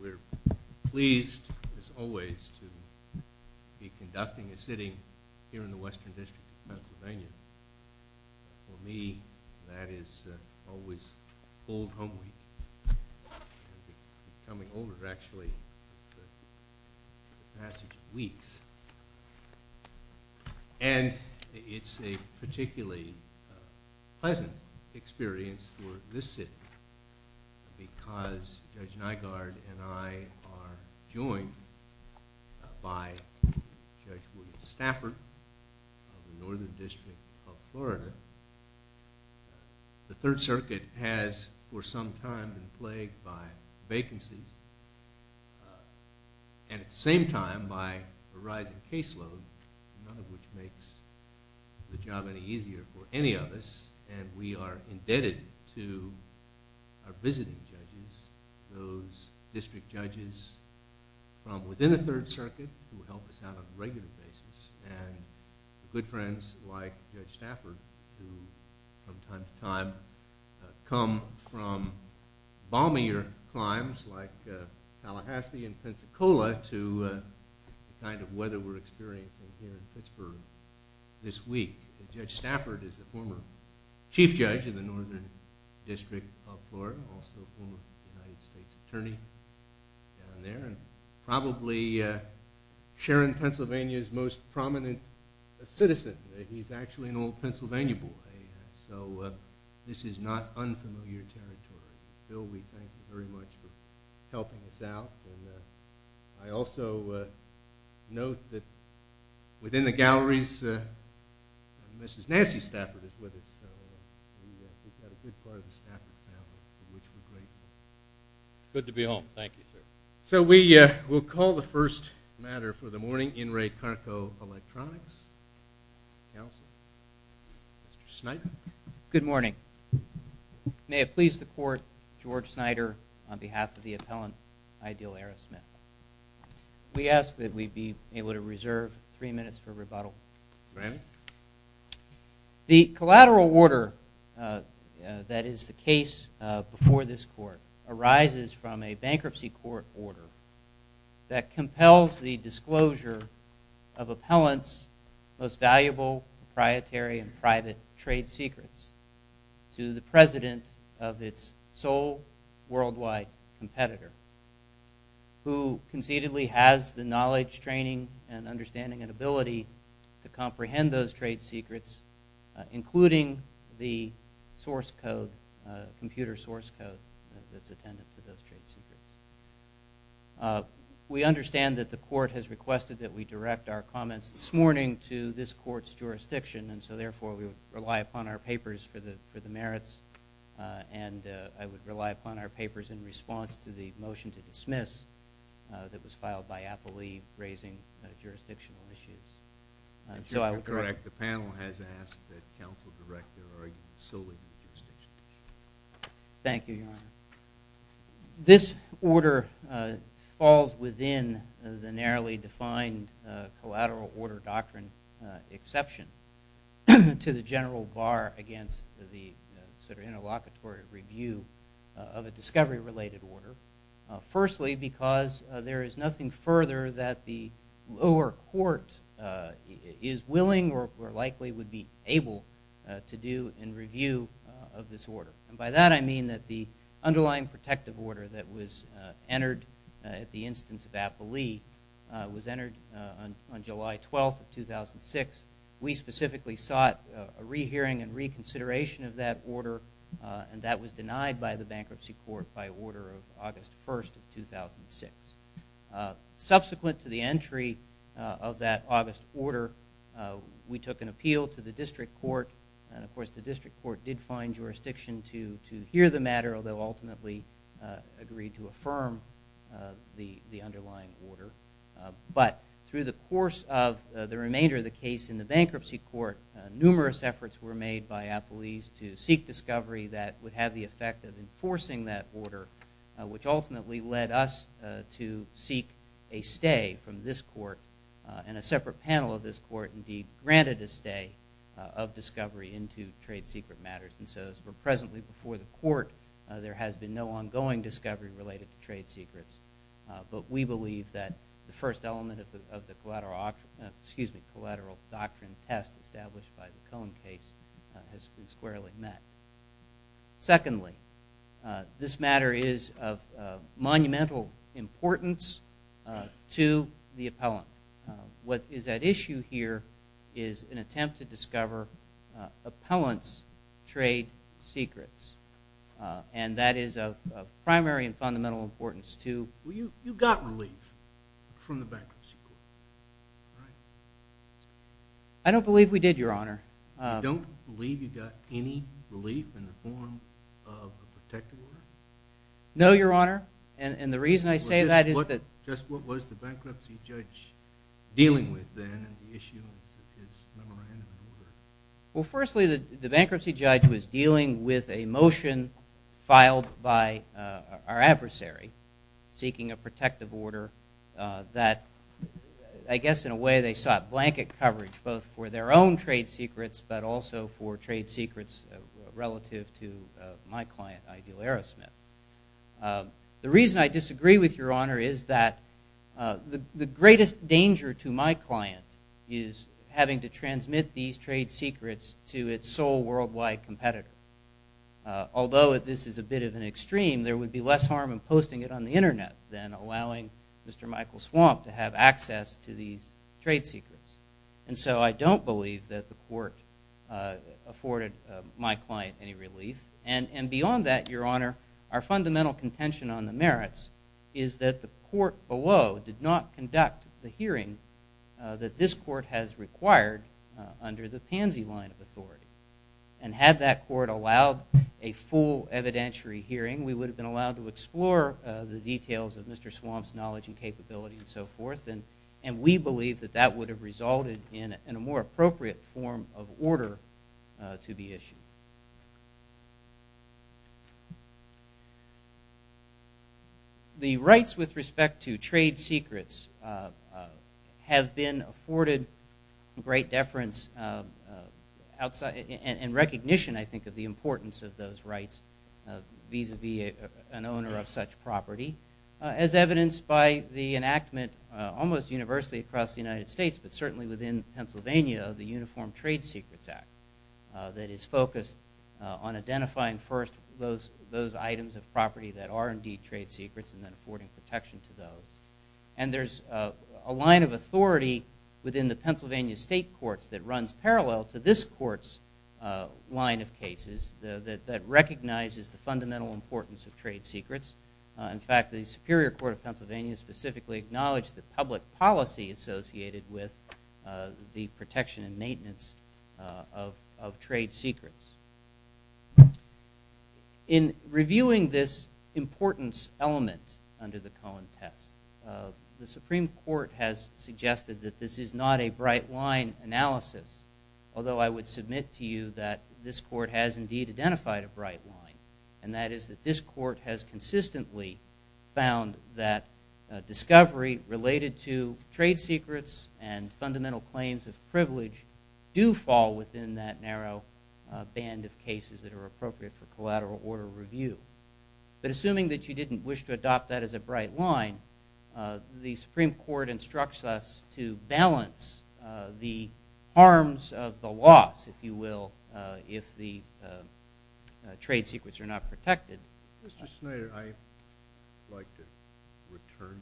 We're pleased, as always, to be conducting a sitting here in the Western District of Pennsylvania. For me, that is always a full home week. I'm coming over, actually, in the middle of this sitting because Judge Nygaard and I are joined by Judge William Stafford of the Northern District of Florida. The Third Circuit has, for some time, been plagued by vacancies and, at the same time, by a rising caseload, none of which makes the job any of us, and we are indebted to our visiting judges, those district judges from within the Third Circuit who help us out on a regular basis, and good friends like Judge Stafford who, from time to time, come from bombier crimes like Tallahassee and Pensacola to the former Chief Judge of the Northern District of Florida, also a former United States Attorney down there, and probably Sharon, Pennsylvania's most prominent citizen. He's actually an old Pennsylvania boy, so this is not unfamiliar territory. Bill, we thank you very much for this. We've got a good part of the Stafford family, for which we're grateful. Good to be home. Thank you, sir. So we will call the first matter for the morning, In Re Carco Electronics. Counsel? Mr. Snyder? Good morning. May it please the Court, George Snyder on behalf of the appellant, Ideal Arrowsmith. We ask that we be able to reserve three minutes for rebuttal. Ma'am? The collateral order that is the case before this Court arises from a bankruptcy court order that compels the disclosure of appellant's most valuable proprietary and private trade secrets to the president of its sole worldwide competitor, who conceitedly has the knowledge, training, and understanding and ability to comprehend those trade secrets, including the source code, computer source code that's attended to those trade secrets. We understand that the Court has requested that we direct our comments this morning to this Court's jurisdiction, and so therefore we rely upon our papers for the merits, and I would rely The panel has asked that counsel direct their argument solely to the jurisdiction. Thank you, Your Honor. This order falls within the narrowly defined collateral order doctrine exception to the general bar against the interlocutory review of a discovery-related order. Firstly, because there is nothing further that the lower court is willing or likely would be able to do in review of this order. And by that I mean that the underlying protective order that was entered at the instance of Applee was entered on July 12th of 2006. We specifically sought a rehearing and reconsideration of that order, and that was denied by the Subsequent to the entry of that August order, we took an appeal to the district court, and of course the district court did find jurisdiction to hear the matter, although ultimately agreed to affirm the underlying order. But through the course of the remainder of the case in the bankruptcy court, numerous efforts were made by Applee's to seek discovery that would have the effect of enforcing that order, which ultimately led us to seek a stay from this court, and a separate panel of this court indeed granted a stay of discovery into trade secret matters. And so as we're presently before the court, there has been no ongoing discovery related to trade secrets, but we believe that the first element of the collateral doctrine test established by the Cohen case has been squarely met. Secondly, this matter is of monumental importance to the appellant. What is at issue here is an attempt to discover appellant's trade secrets, and that is of primary and fundamental importance to You got relief from the bankruptcy court, right? I don't believe we did, your honor. You don't believe you got any relief in the form of a protective order? No, your honor, and the reason I say that is that Just what was the bankruptcy judge dealing with then in the issue of his memorandum of order? Well, firstly, the bankruptcy judge was dealing with a motion filed by our adversary seeking a protective order that, I guess in a way, they sought blanket coverage both for their own trade secrets, but also for trade secrets relative to my client, Ideal Aerosmith. The reason I disagree with your honor is that the greatest danger to my client is having to transmit these trade secrets to its sole worldwide competitor. Although this is a bit of an extreme, there would be less harm in posting it on the internet than allowing Mr. Michael Swamp to have access to these trade secrets. And so I don't believe that the court afforded my client any relief. And beyond that, your honor, our fundamental contention on the merits is that the court below did not conduct the hearing that this court has required under the Pansy line of authority. And had that court allowed a full evidentiary hearing, we would have been allowed to explore the details of Mr. Swamp's knowledge and capability and so forth, and we believe that that would have resulted in a more appropriate form of The rights with respect to trade secrets have been afforded great deference and recognition, I think, of the importance of those rights vis-a-vis an owner of such property, as evidenced by the enactment almost universally across the United States, but certainly within Pennsylvania, the Uniform Trade Secrets Act that is focused on identifying first those items of property that are indeed trade secrets and then affording protection to those. And there's a line of authority within the Pennsylvania state courts that runs parallel to this court's line of cases that recognizes the fundamental importance of trade secrets. In fact, the Superior Court of Pennsylvania specifically acknowledged the public policy associated with the protection and maintenance of trade secrets. In reviewing this importance element under the Cohen test, the Supreme Court has suggested that this is not a bright line analysis, although I would submit to you that this court has indeed identified a bright line, and that is that this court has consistently found that discovery related to trade secrets and fundamental claims of privilege do fall within that narrow band of cases that are appropriate for collateral order review. But assuming that you didn't wish to adopt that as a bright line, the Supreme Court instructs us to balance the harms of the loss, if you will, if the trade secrets are not protected. Mr. Schneider, I would like to return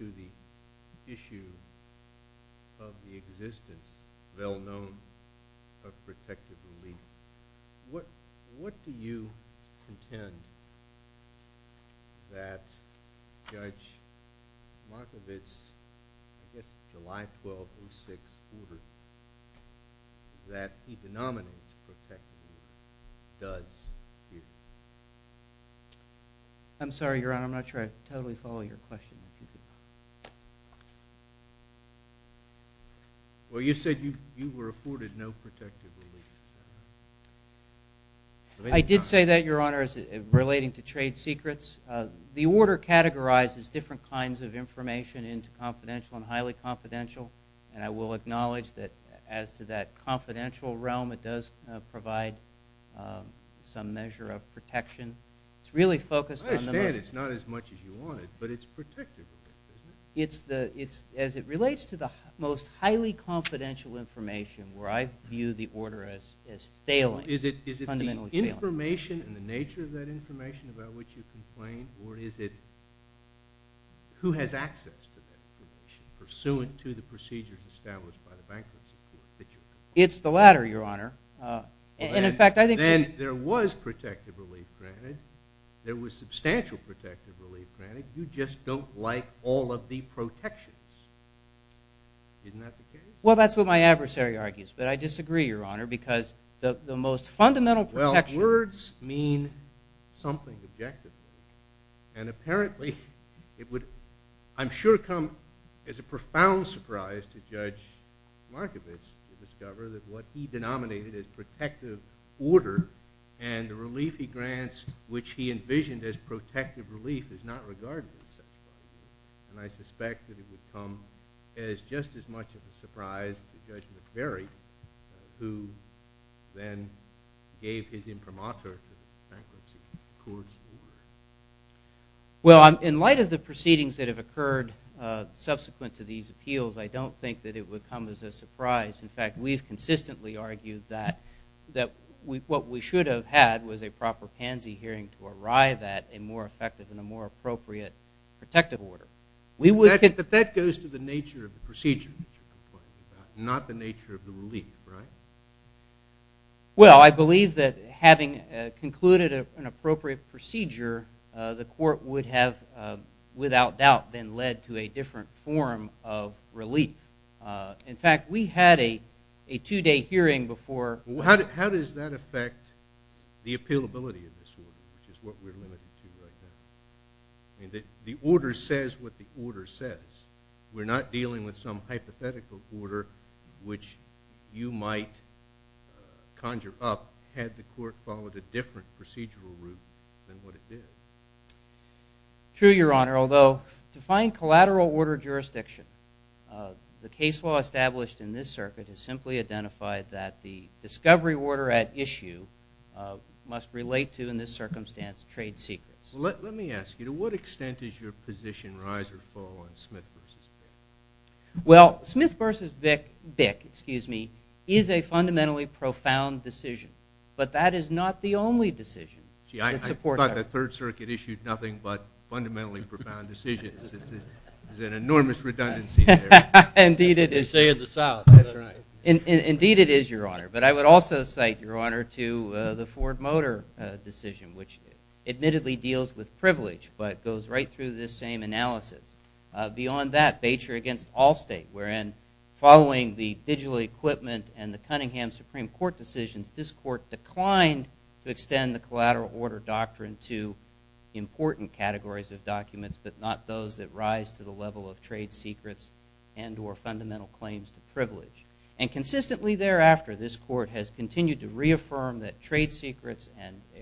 to the issue of the existence, well known, of protective relief. What do you contend that Judge Markovitz, I guess July 12, 2006, ordered that he denominate protective relief does exist? I'm sorry, Your Honor, I'm not sure I totally follow your question. Well, you said you were afforded no protective relief. I did say that, Your Honor, relating to trade secrets. The order categorizes different kinds of information into confidential and highly confidential. And I will acknowledge that as to that confidential realm, it does provide some measure of protection. It's really focused on the most- I understand it's not as much as you wanted, but it's protective. As it relates to the most highly confidential information, where I view the order as failing, fundamentally failing. Is it the information and the nature of that information about which you complain, or is it who has access to that information, pursuant to the procedures established by the Bank of New York that you have? It's the latter, Your Honor. And in fact, I think- Then there was protective relief granted. There was substantial protective relief granted. You just don't like all of the protections. Isn't that the case? Well, that's what my adversary argues. But I disagree, Your Honor, because the most fundamental protection- Well, words mean something objectively. And apparently, it would, I'm sure, come as a profound surprise to Judge Markovits to discover that what he denominated as protective order and the relief he grants, which he envisioned as protective relief, is not regarded as such. And I suspect that it would come as just as much of a surprise to Judge McBury, who then gave his imprimatur to the bankruptcy courts. Well, in light of the proceedings that have occurred subsequent to these appeals, I don't think that it would come as a surprise. In fact, we have consistently argued that what we should have had was a proper pansy hearing to arrive at a more effective and a more appropriate protective order. But that goes to the nature of the procedure that you're talking about, not the nature of the relief, right? Well, I believe that having concluded an appropriate procedure, the court would have, without doubt, been led to a different form of relief. In fact, we had a two-day hearing before- How does that affect the appealability of this order, which is what we're limited to right now? I mean, the order says what the order says. We're not dealing with some hypothetical order which you might conjure up had the court followed a different procedural route than what it did. True, Your Honor, although to find collateral order jurisdiction, the case law established in this circuit has simply identified that the discovery order at issue must relate to, in this circumstance, trade secrets. Let me ask you, to what extent is your position rise or fall on Smith v. Davis? Well, Smith v. Bick is a fundamentally profound decision, but that is not the only decision that supports- Gee, I thought the Third Circuit issued nothing but fundamentally profound decisions. There's an enormous redundancy there. Indeed, it is. They say in the South. That's right. Indeed, it is, Your Honor. But I would also cite, Your Honor, to the Ford Motor decision, which admittedly deals with privilege, but goes right through this same analysis. Beyond that, Bates v. Allstate, wherein following the digital equipment and the Cunningham Supreme Court decisions, this court declined to extend the collateral order doctrine to important categories of documents, but not those that rise to the level of trade secrets and or fundamental claims to privilege. And consistently thereafter, this court has continued to reaffirm that trade secrets and If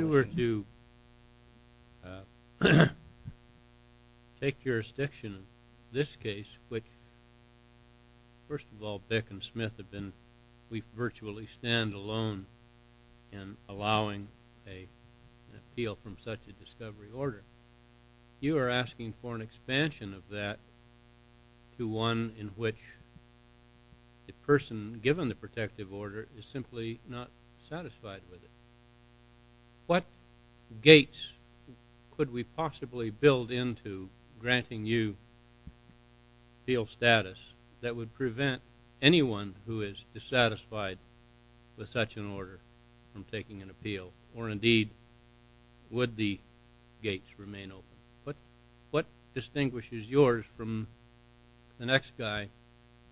you were to take jurisdiction of this case, which, first of all, Bick and Smith have been, we virtually stand alone in allowing an appeal from such a discovery order, you are asking for an expansion of that to one in which the person given the protective order is simply not satisfied with it. What gates could we possibly build into granting you appeal status that would prevent anyone who is dissatisfied with such an order from taking an appeal? Or indeed, would the gates remain open? What distinguishes yours from the next guy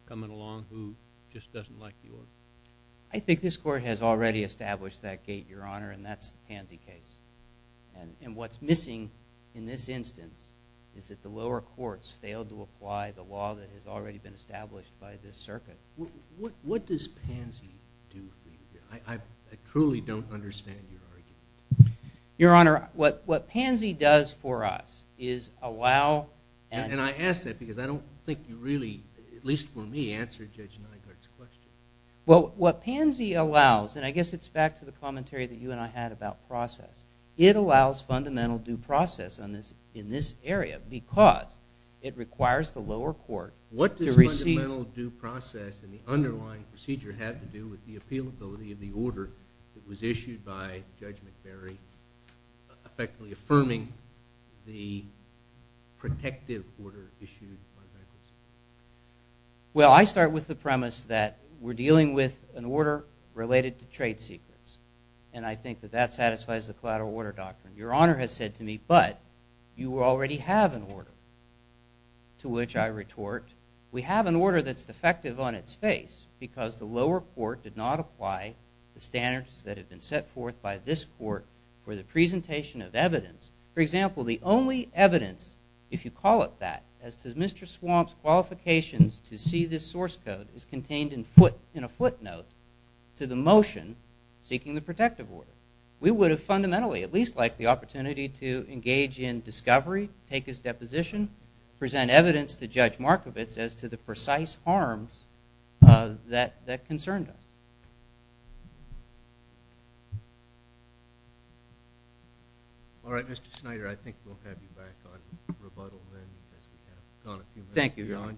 coming along who just doesn't like the order? I think this court has already established that gate, Your Honor, and that's the Pansy case. And what's missing in this instance is that the lower courts failed to apply the law that has already been established by this circuit. What does Pansy do for you? I truly don't understand your argument. Your Honor, what Pansy does for us is allow And I ask that because I don't think you really, at least for me, answered Judge Nygaard's question. Well, what Pansy allows, and I guess it's back to the commentary that you and I had about process. It allows fundamental due process in this area because it requires the lower court to receive What does fundamental due process and the underlying procedure have to do with the appealability of the order that was issued by Judge McBury effectively affirming the protective order issued by Judge McBury? Well, I start with the premise that we're dealing with an order related to trade secrets. And I think that that satisfies the collateral order doctrine. Your Honor has said to me, but you already have an order, to which I retort, we have an order that's defective on its face because the lower court did not apply the standards that have been set forth by this court for the presentation of evidence. For example, the only evidence, if you call it that, as to Mr. Swamp's qualifications to see this source code is contained in a footnote to the motion seeking the protective order. We would have fundamentally, at least like the opportunity to engage in discovery, take his deposition, present evidence to Judge Markovitz as to the precise harms that concerned us. All right. Mr. Schneider, I think we'll have you back on rebuttal then as we have gone a few minutes Thank you, Your Honor.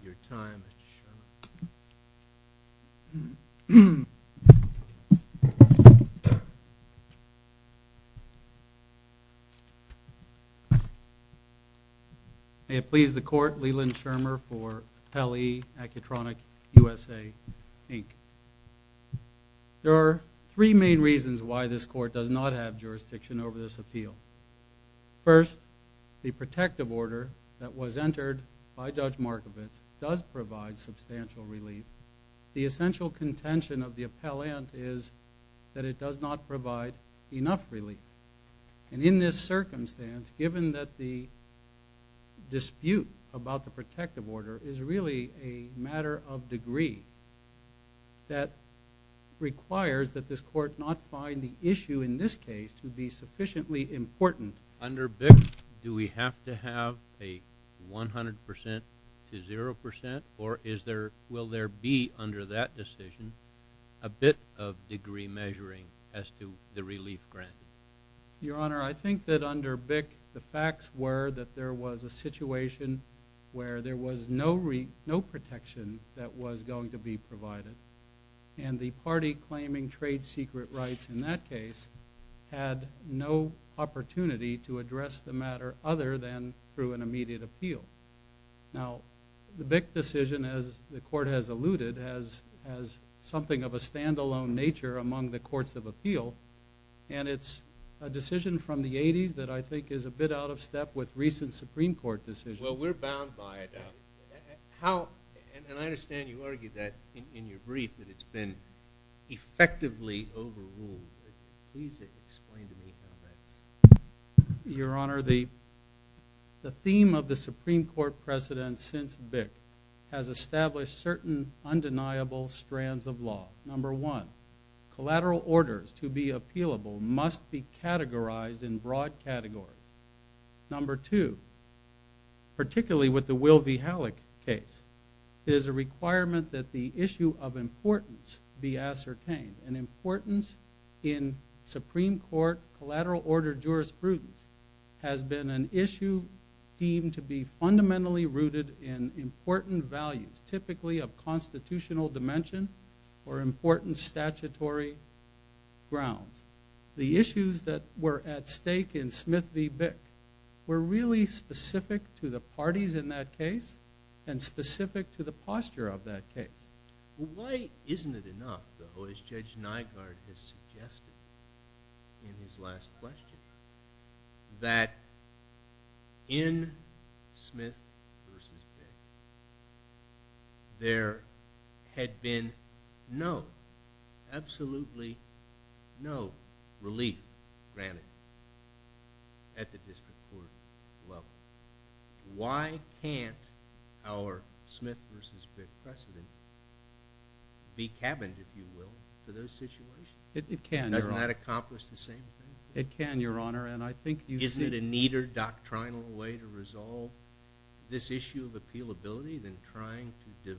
May it please the court, Leland Shermer for Appellee Acutronic USA, Inc. There are three main reasons why this court does not have jurisdiction over this appeal. First, the protective order that was entered by Judge Markovitz does provide substantial relief. The essential contention of the appellant is that it does not provide enough relief. And in this circumstance, given that the dispute about the protective order is really a matter of degree, that requires that this court not find the issue in this case to be sufficiently important. Under BIC, do we have to have a 100% to 0%? Or will there be, under that decision, a bit of degree measuring as to the relief granted? Your Honor, I think that under BIC, the facts were that there was a situation where there was no protection that was going to be provided. And the party claiming trade secret rights in that case had no opportunity to address the matter other than through an immediate appeal. Now, the BIC decision, as the court has alluded, has something of a stand-alone nature among the courts of appeal. And it's a decision from the 80s that I think is a bit out of step with recent Supreme Court decisions. Well, we're bound by it. And I understand you argued that in your brief, that it's been effectively overruled. Please explain to me how that's... Your Honor, the theme of the Supreme Court precedent since BIC has established certain undeniable strands of law. Number one, collateral orders to be appealable must be categorized in broad categories. Number two, particularly with the Will v. Halleck case, there's a requirement that the issue of importance be ascertained. And importance in Supreme Court collateral order jurisprudence has been an issue deemed to be fundamentally rooted in important values, typically of constitutional dimension or important statutory grounds. The issues that were at stake in Smith v. BIC were really specific to the parties in that case and specific to the posture of that case. Why isn't it enough, though, as Judge Nygaard has suggested in his last question, that in the case of Smith v. BIC, there should be relief granted at the district court level? Why can't our Smith v. BIC precedent be cabined, if you will, to those situations? It can, Your Honor. Doesn't that accomplish the same thing? It can, Your Honor. And I think you see... Isn't it a neater doctrinal way to resolve this issue of appealability than trying to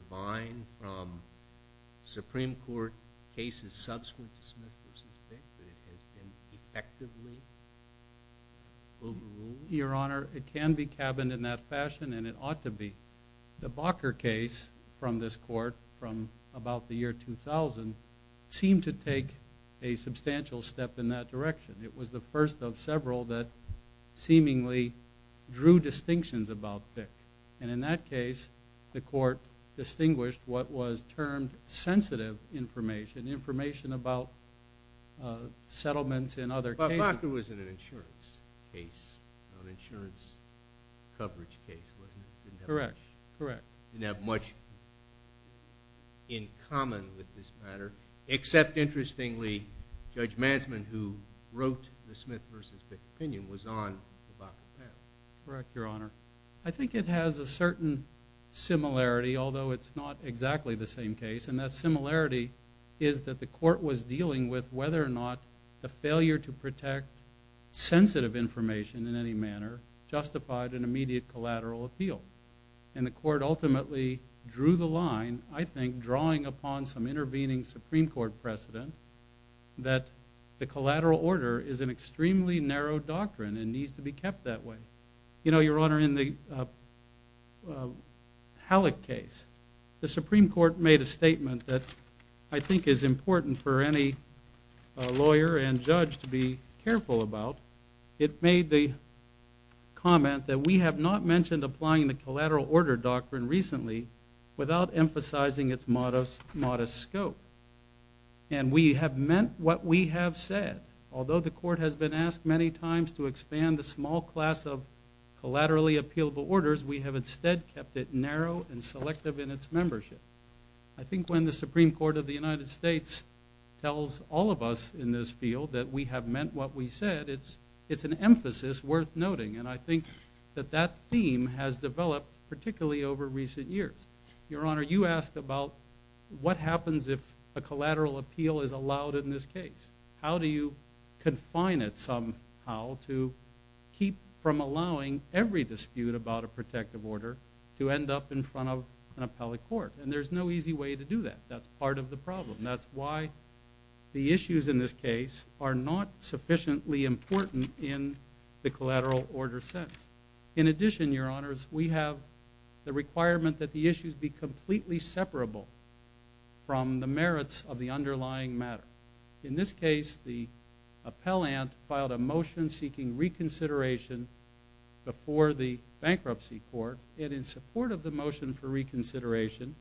effectively rule the room? Your Honor, it can be cabined in that fashion, and it ought to be. The Bacher case from this court from about the year 2000 seemed to take a substantial step in that direction. It was the first of several that seemingly drew distinctions about BIC. And in that case, the court distinguished what was termed sensitive information, information about settlements in other cases. But Bacher was an insurance case, an insurance coverage case, wasn't it? Correct, correct. Didn't have much in common with this matter, except, interestingly, Judge Mansman, who wrote the Smith v. BIC opinion, was on the Bacher panel. Correct, Your Honor. I think it has a certain similarity, although it's not exactly the same case. And that similarity is that the court was dealing with whether or not the failure to protect sensitive information in any manner justified an immediate collateral appeal. And the court ultimately drew the line, I think, drawing upon some intervening Supreme Court precedent, that the collateral order is an extremely narrow doctrine and needs to be kept that way. You know, Your Honor, in the Halleck case, the Supreme Court made a statement that I think is important for any lawyer and judge to be careful about. It made the comment that we have not mentioned applying the collateral order doctrine recently without emphasizing its modest scope. And we have meant what we have said. Although the court has been asked many times to expand the small class of collaterally appealable orders, we have instead kept it narrow and selective in its membership. I think when the Supreme Court of the United States tells all of us in this field that we have meant what we said, it's an emphasis worth noting. And I think that that theme has developed particularly over recent years. Your Honor, you asked about what happens if a collateral appeal is allowed in this case. How do you confine it somehow to keep from allowing every dispute about a protective order to end up in front of an appellate court? And there's no easy way to do that. That's part of the problem. That's why the issues in this case are not sufficiently important in the collateral order sense. In addition, Your Honors, we have the requirement that the issues be completely separable from the merits of the underlying matter. In this case, the appellant filed a motion seeking reconsideration before the bankruptcy court. And in support of the motion for reconsideration,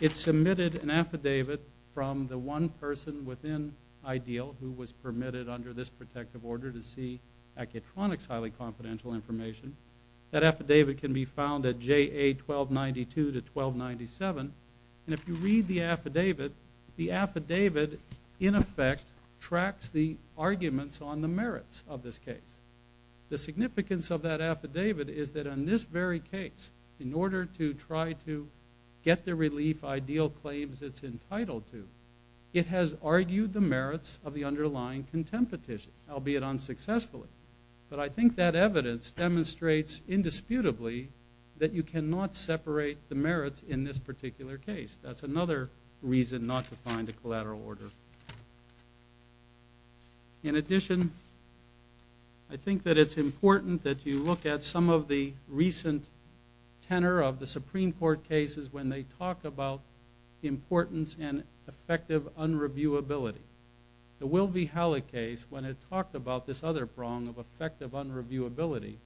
it submitted an affidavit from the one person within IDEAL who was permitted under this protective order to see Accutronics' highly confidential information. That affidavit can be found at JA 1292 to 1297. And if you read the affidavit, the affidavit in effect tracks the arguments on the merits of this case. The significance of that affidavit is that in this very case, in order to try to get the relief IDEAL claims it's entitled to, it has argued the merits of the underlying contempt petition, albeit unsuccessfully. But I think that evidence demonstrates indisputably that you cannot separate the merits in this particular case. That's another reason not to find a collateral order. In addition, I think that it's important that you look at some of the recent tenor of the Supreme Court cases when they talk about importance and effective unreviewability. The Will v. Halle case, when it talked about this other prong of effective unreviewability,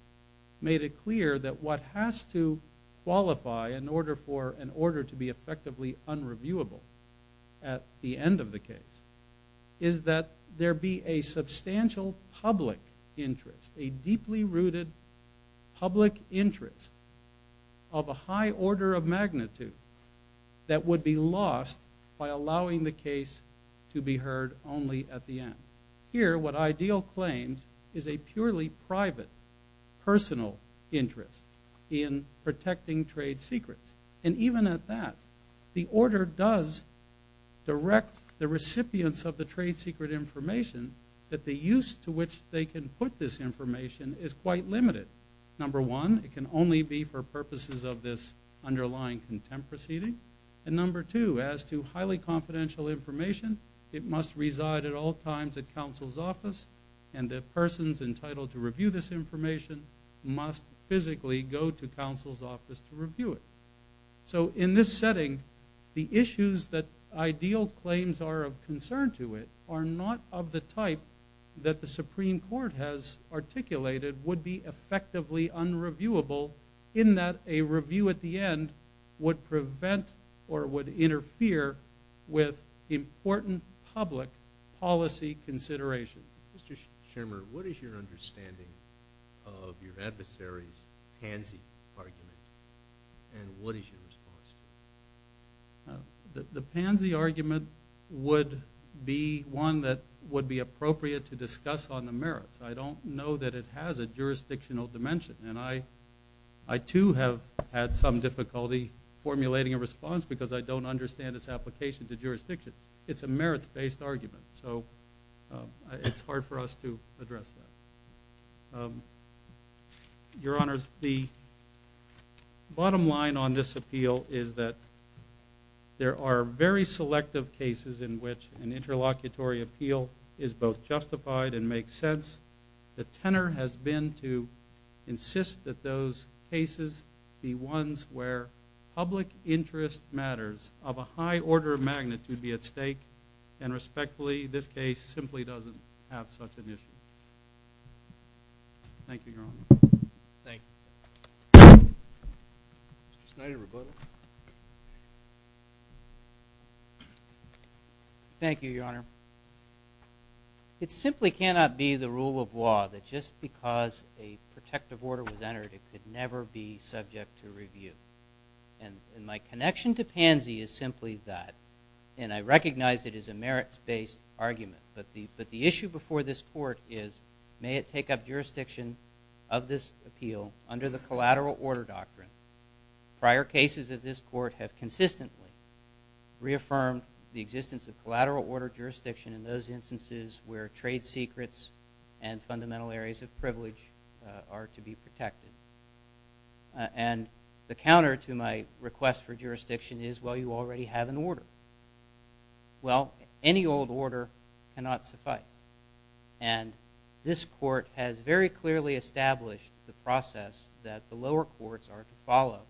made it clear that what has to qualify in order for an order to be effectively unreviewable at the end of the case is that there be a substantial public interest, a deeply rooted public interest of a high order of magnitude that would be lost by allowing the case to be heard only at the end. Here, what IDEAL claims is a purely private, personal interest in protecting trade secrets. And even at that, the order does direct the recipients of the trade secret information that the use to which they can put this information is quite limited. Number one, it can only be for purposes of this underlying contempt proceeding. And number two, as to highly confidential information, it must reside at all times at counsel's office, and the persons entitled to review this information must physically go to counsel's office to review it. So in this setting, the issues that IDEAL claims are of concern to it are not of the type that the Supreme Court has articulated would be effectively unreviewable in that a review at the end would prevent or would interfere with important public policy considerations. Mr. Chairman, what is your understanding of your adversary's pansy argument, and what is your response? The pansy argument would be one that would be appropriate to discuss on the merits. I don't know that it has a jurisdictional dimension, and I too have had some difficulty formulating a response because I don't understand its application to jurisdiction. It's a merits-based argument, so it's hard for us to address that. Your Honors, the bottom line on this appeal is that there are very selective cases in which an interlocutory appeal is both justified and makes sense. The tenor has been to insist that those cases be ones where public interest matters of a high order of magnitude be at stake, and respectfully, this case simply doesn't have such an issue. Thank you, Your Honors. Thank you. Mr. Schneider, rebuttal. Thank you, Your Honor. It simply cannot be the rule of law that just because a protective order was entered, it could never be subject to review. And my connection to pansy is simply that, and I recognize it is a merits-based argument, but the issue before this Court is may it take up jurisdiction of this appeal under the collateral order doctrine. Prior cases of this Court have consistently reaffirmed the existence of collateral order jurisdiction in those instances where trade secrets and fundamental areas of privilege are to be protected. And the counter to my request for jurisdiction is, well, you already have an order. Well, any old order cannot suffice. And this Court has very clearly established the process that the lower courts are to follow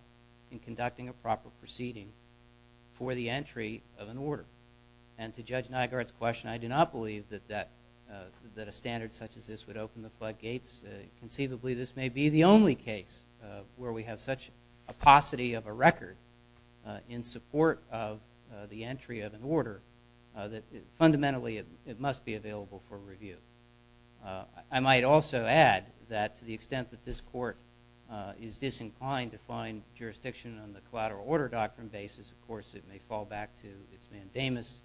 in conducting a proper proceeding for the entry of an order. And to Judge Nygaard's question, I do not believe that a standard such as this would open the floodgates. Conceivably, this may be the only case where we have such a paucity of a record in support of the entry of an order that fundamentally it must be available for review. I might also add that to the extent that this Court is disinclined to find jurisdiction on the collateral order doctrine basis, of course, it may fall back to its mandamus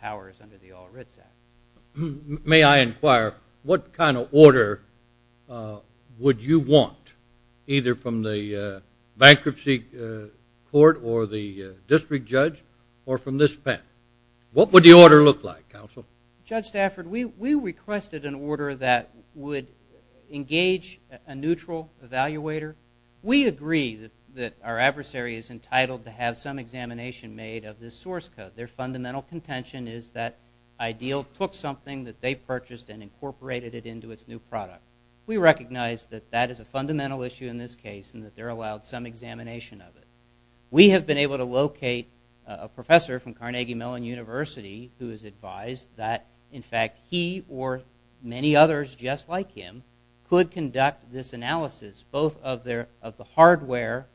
powers under the All Writs Act. May I inquire, what kind of order would you want, either from the bankruptcy court or the district judge or from this panel? What would the order look like, counsel? Judge Stafford, we requested an order that would engage a neutral evaluator. We agree that our adversary is entitled to have some examination made of this source code. Their fundamental contention is that Ideal took something that they purchased and incorporated it into its new product. We recognize that that is a fundamental issue in this case and that they're allowed some examination of it. We have been able to locate a professor from Carnegie Mellon University who has advised that, in fact, he or many others just like him could conduct this analysis, both of the hardware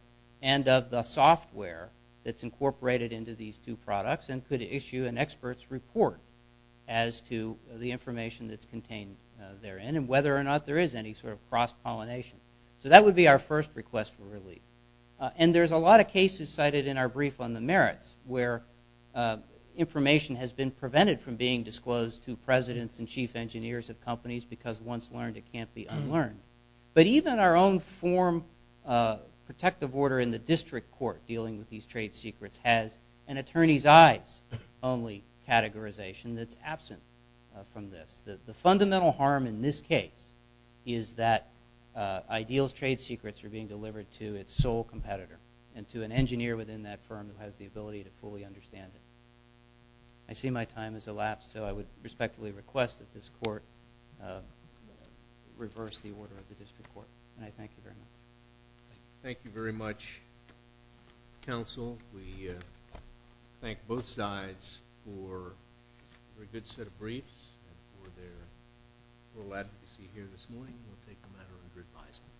and of the software that's incorporated into these two products. And could issue an expert's report as to the information that's contained therein and whether or not there is any sort of cross-pollination. So that would be our first request for relief. And there's a lot of cases cited in our brief on the merits where information has been prevented from being disclosed to presidents and chief engineers of companies because once learned, it can't be unlearned. But even our own form protective order in the district court dealing with these trade secrets has an attorney's eyes only categorization that's absent from this. The fundamental harm in this case is that Ideal's trade secrets are being delivered to its sole competitor and to an engineer within that firm who has the ability to fully understand it. I see my time has elapsed, so I would respectfully request that this court reverse the order of the district court. And I thank you very much. Thank you very much, counsel. We thank both sides for a good set of briefs and for their full advocacy here this morning. We'll take a matter under advisement.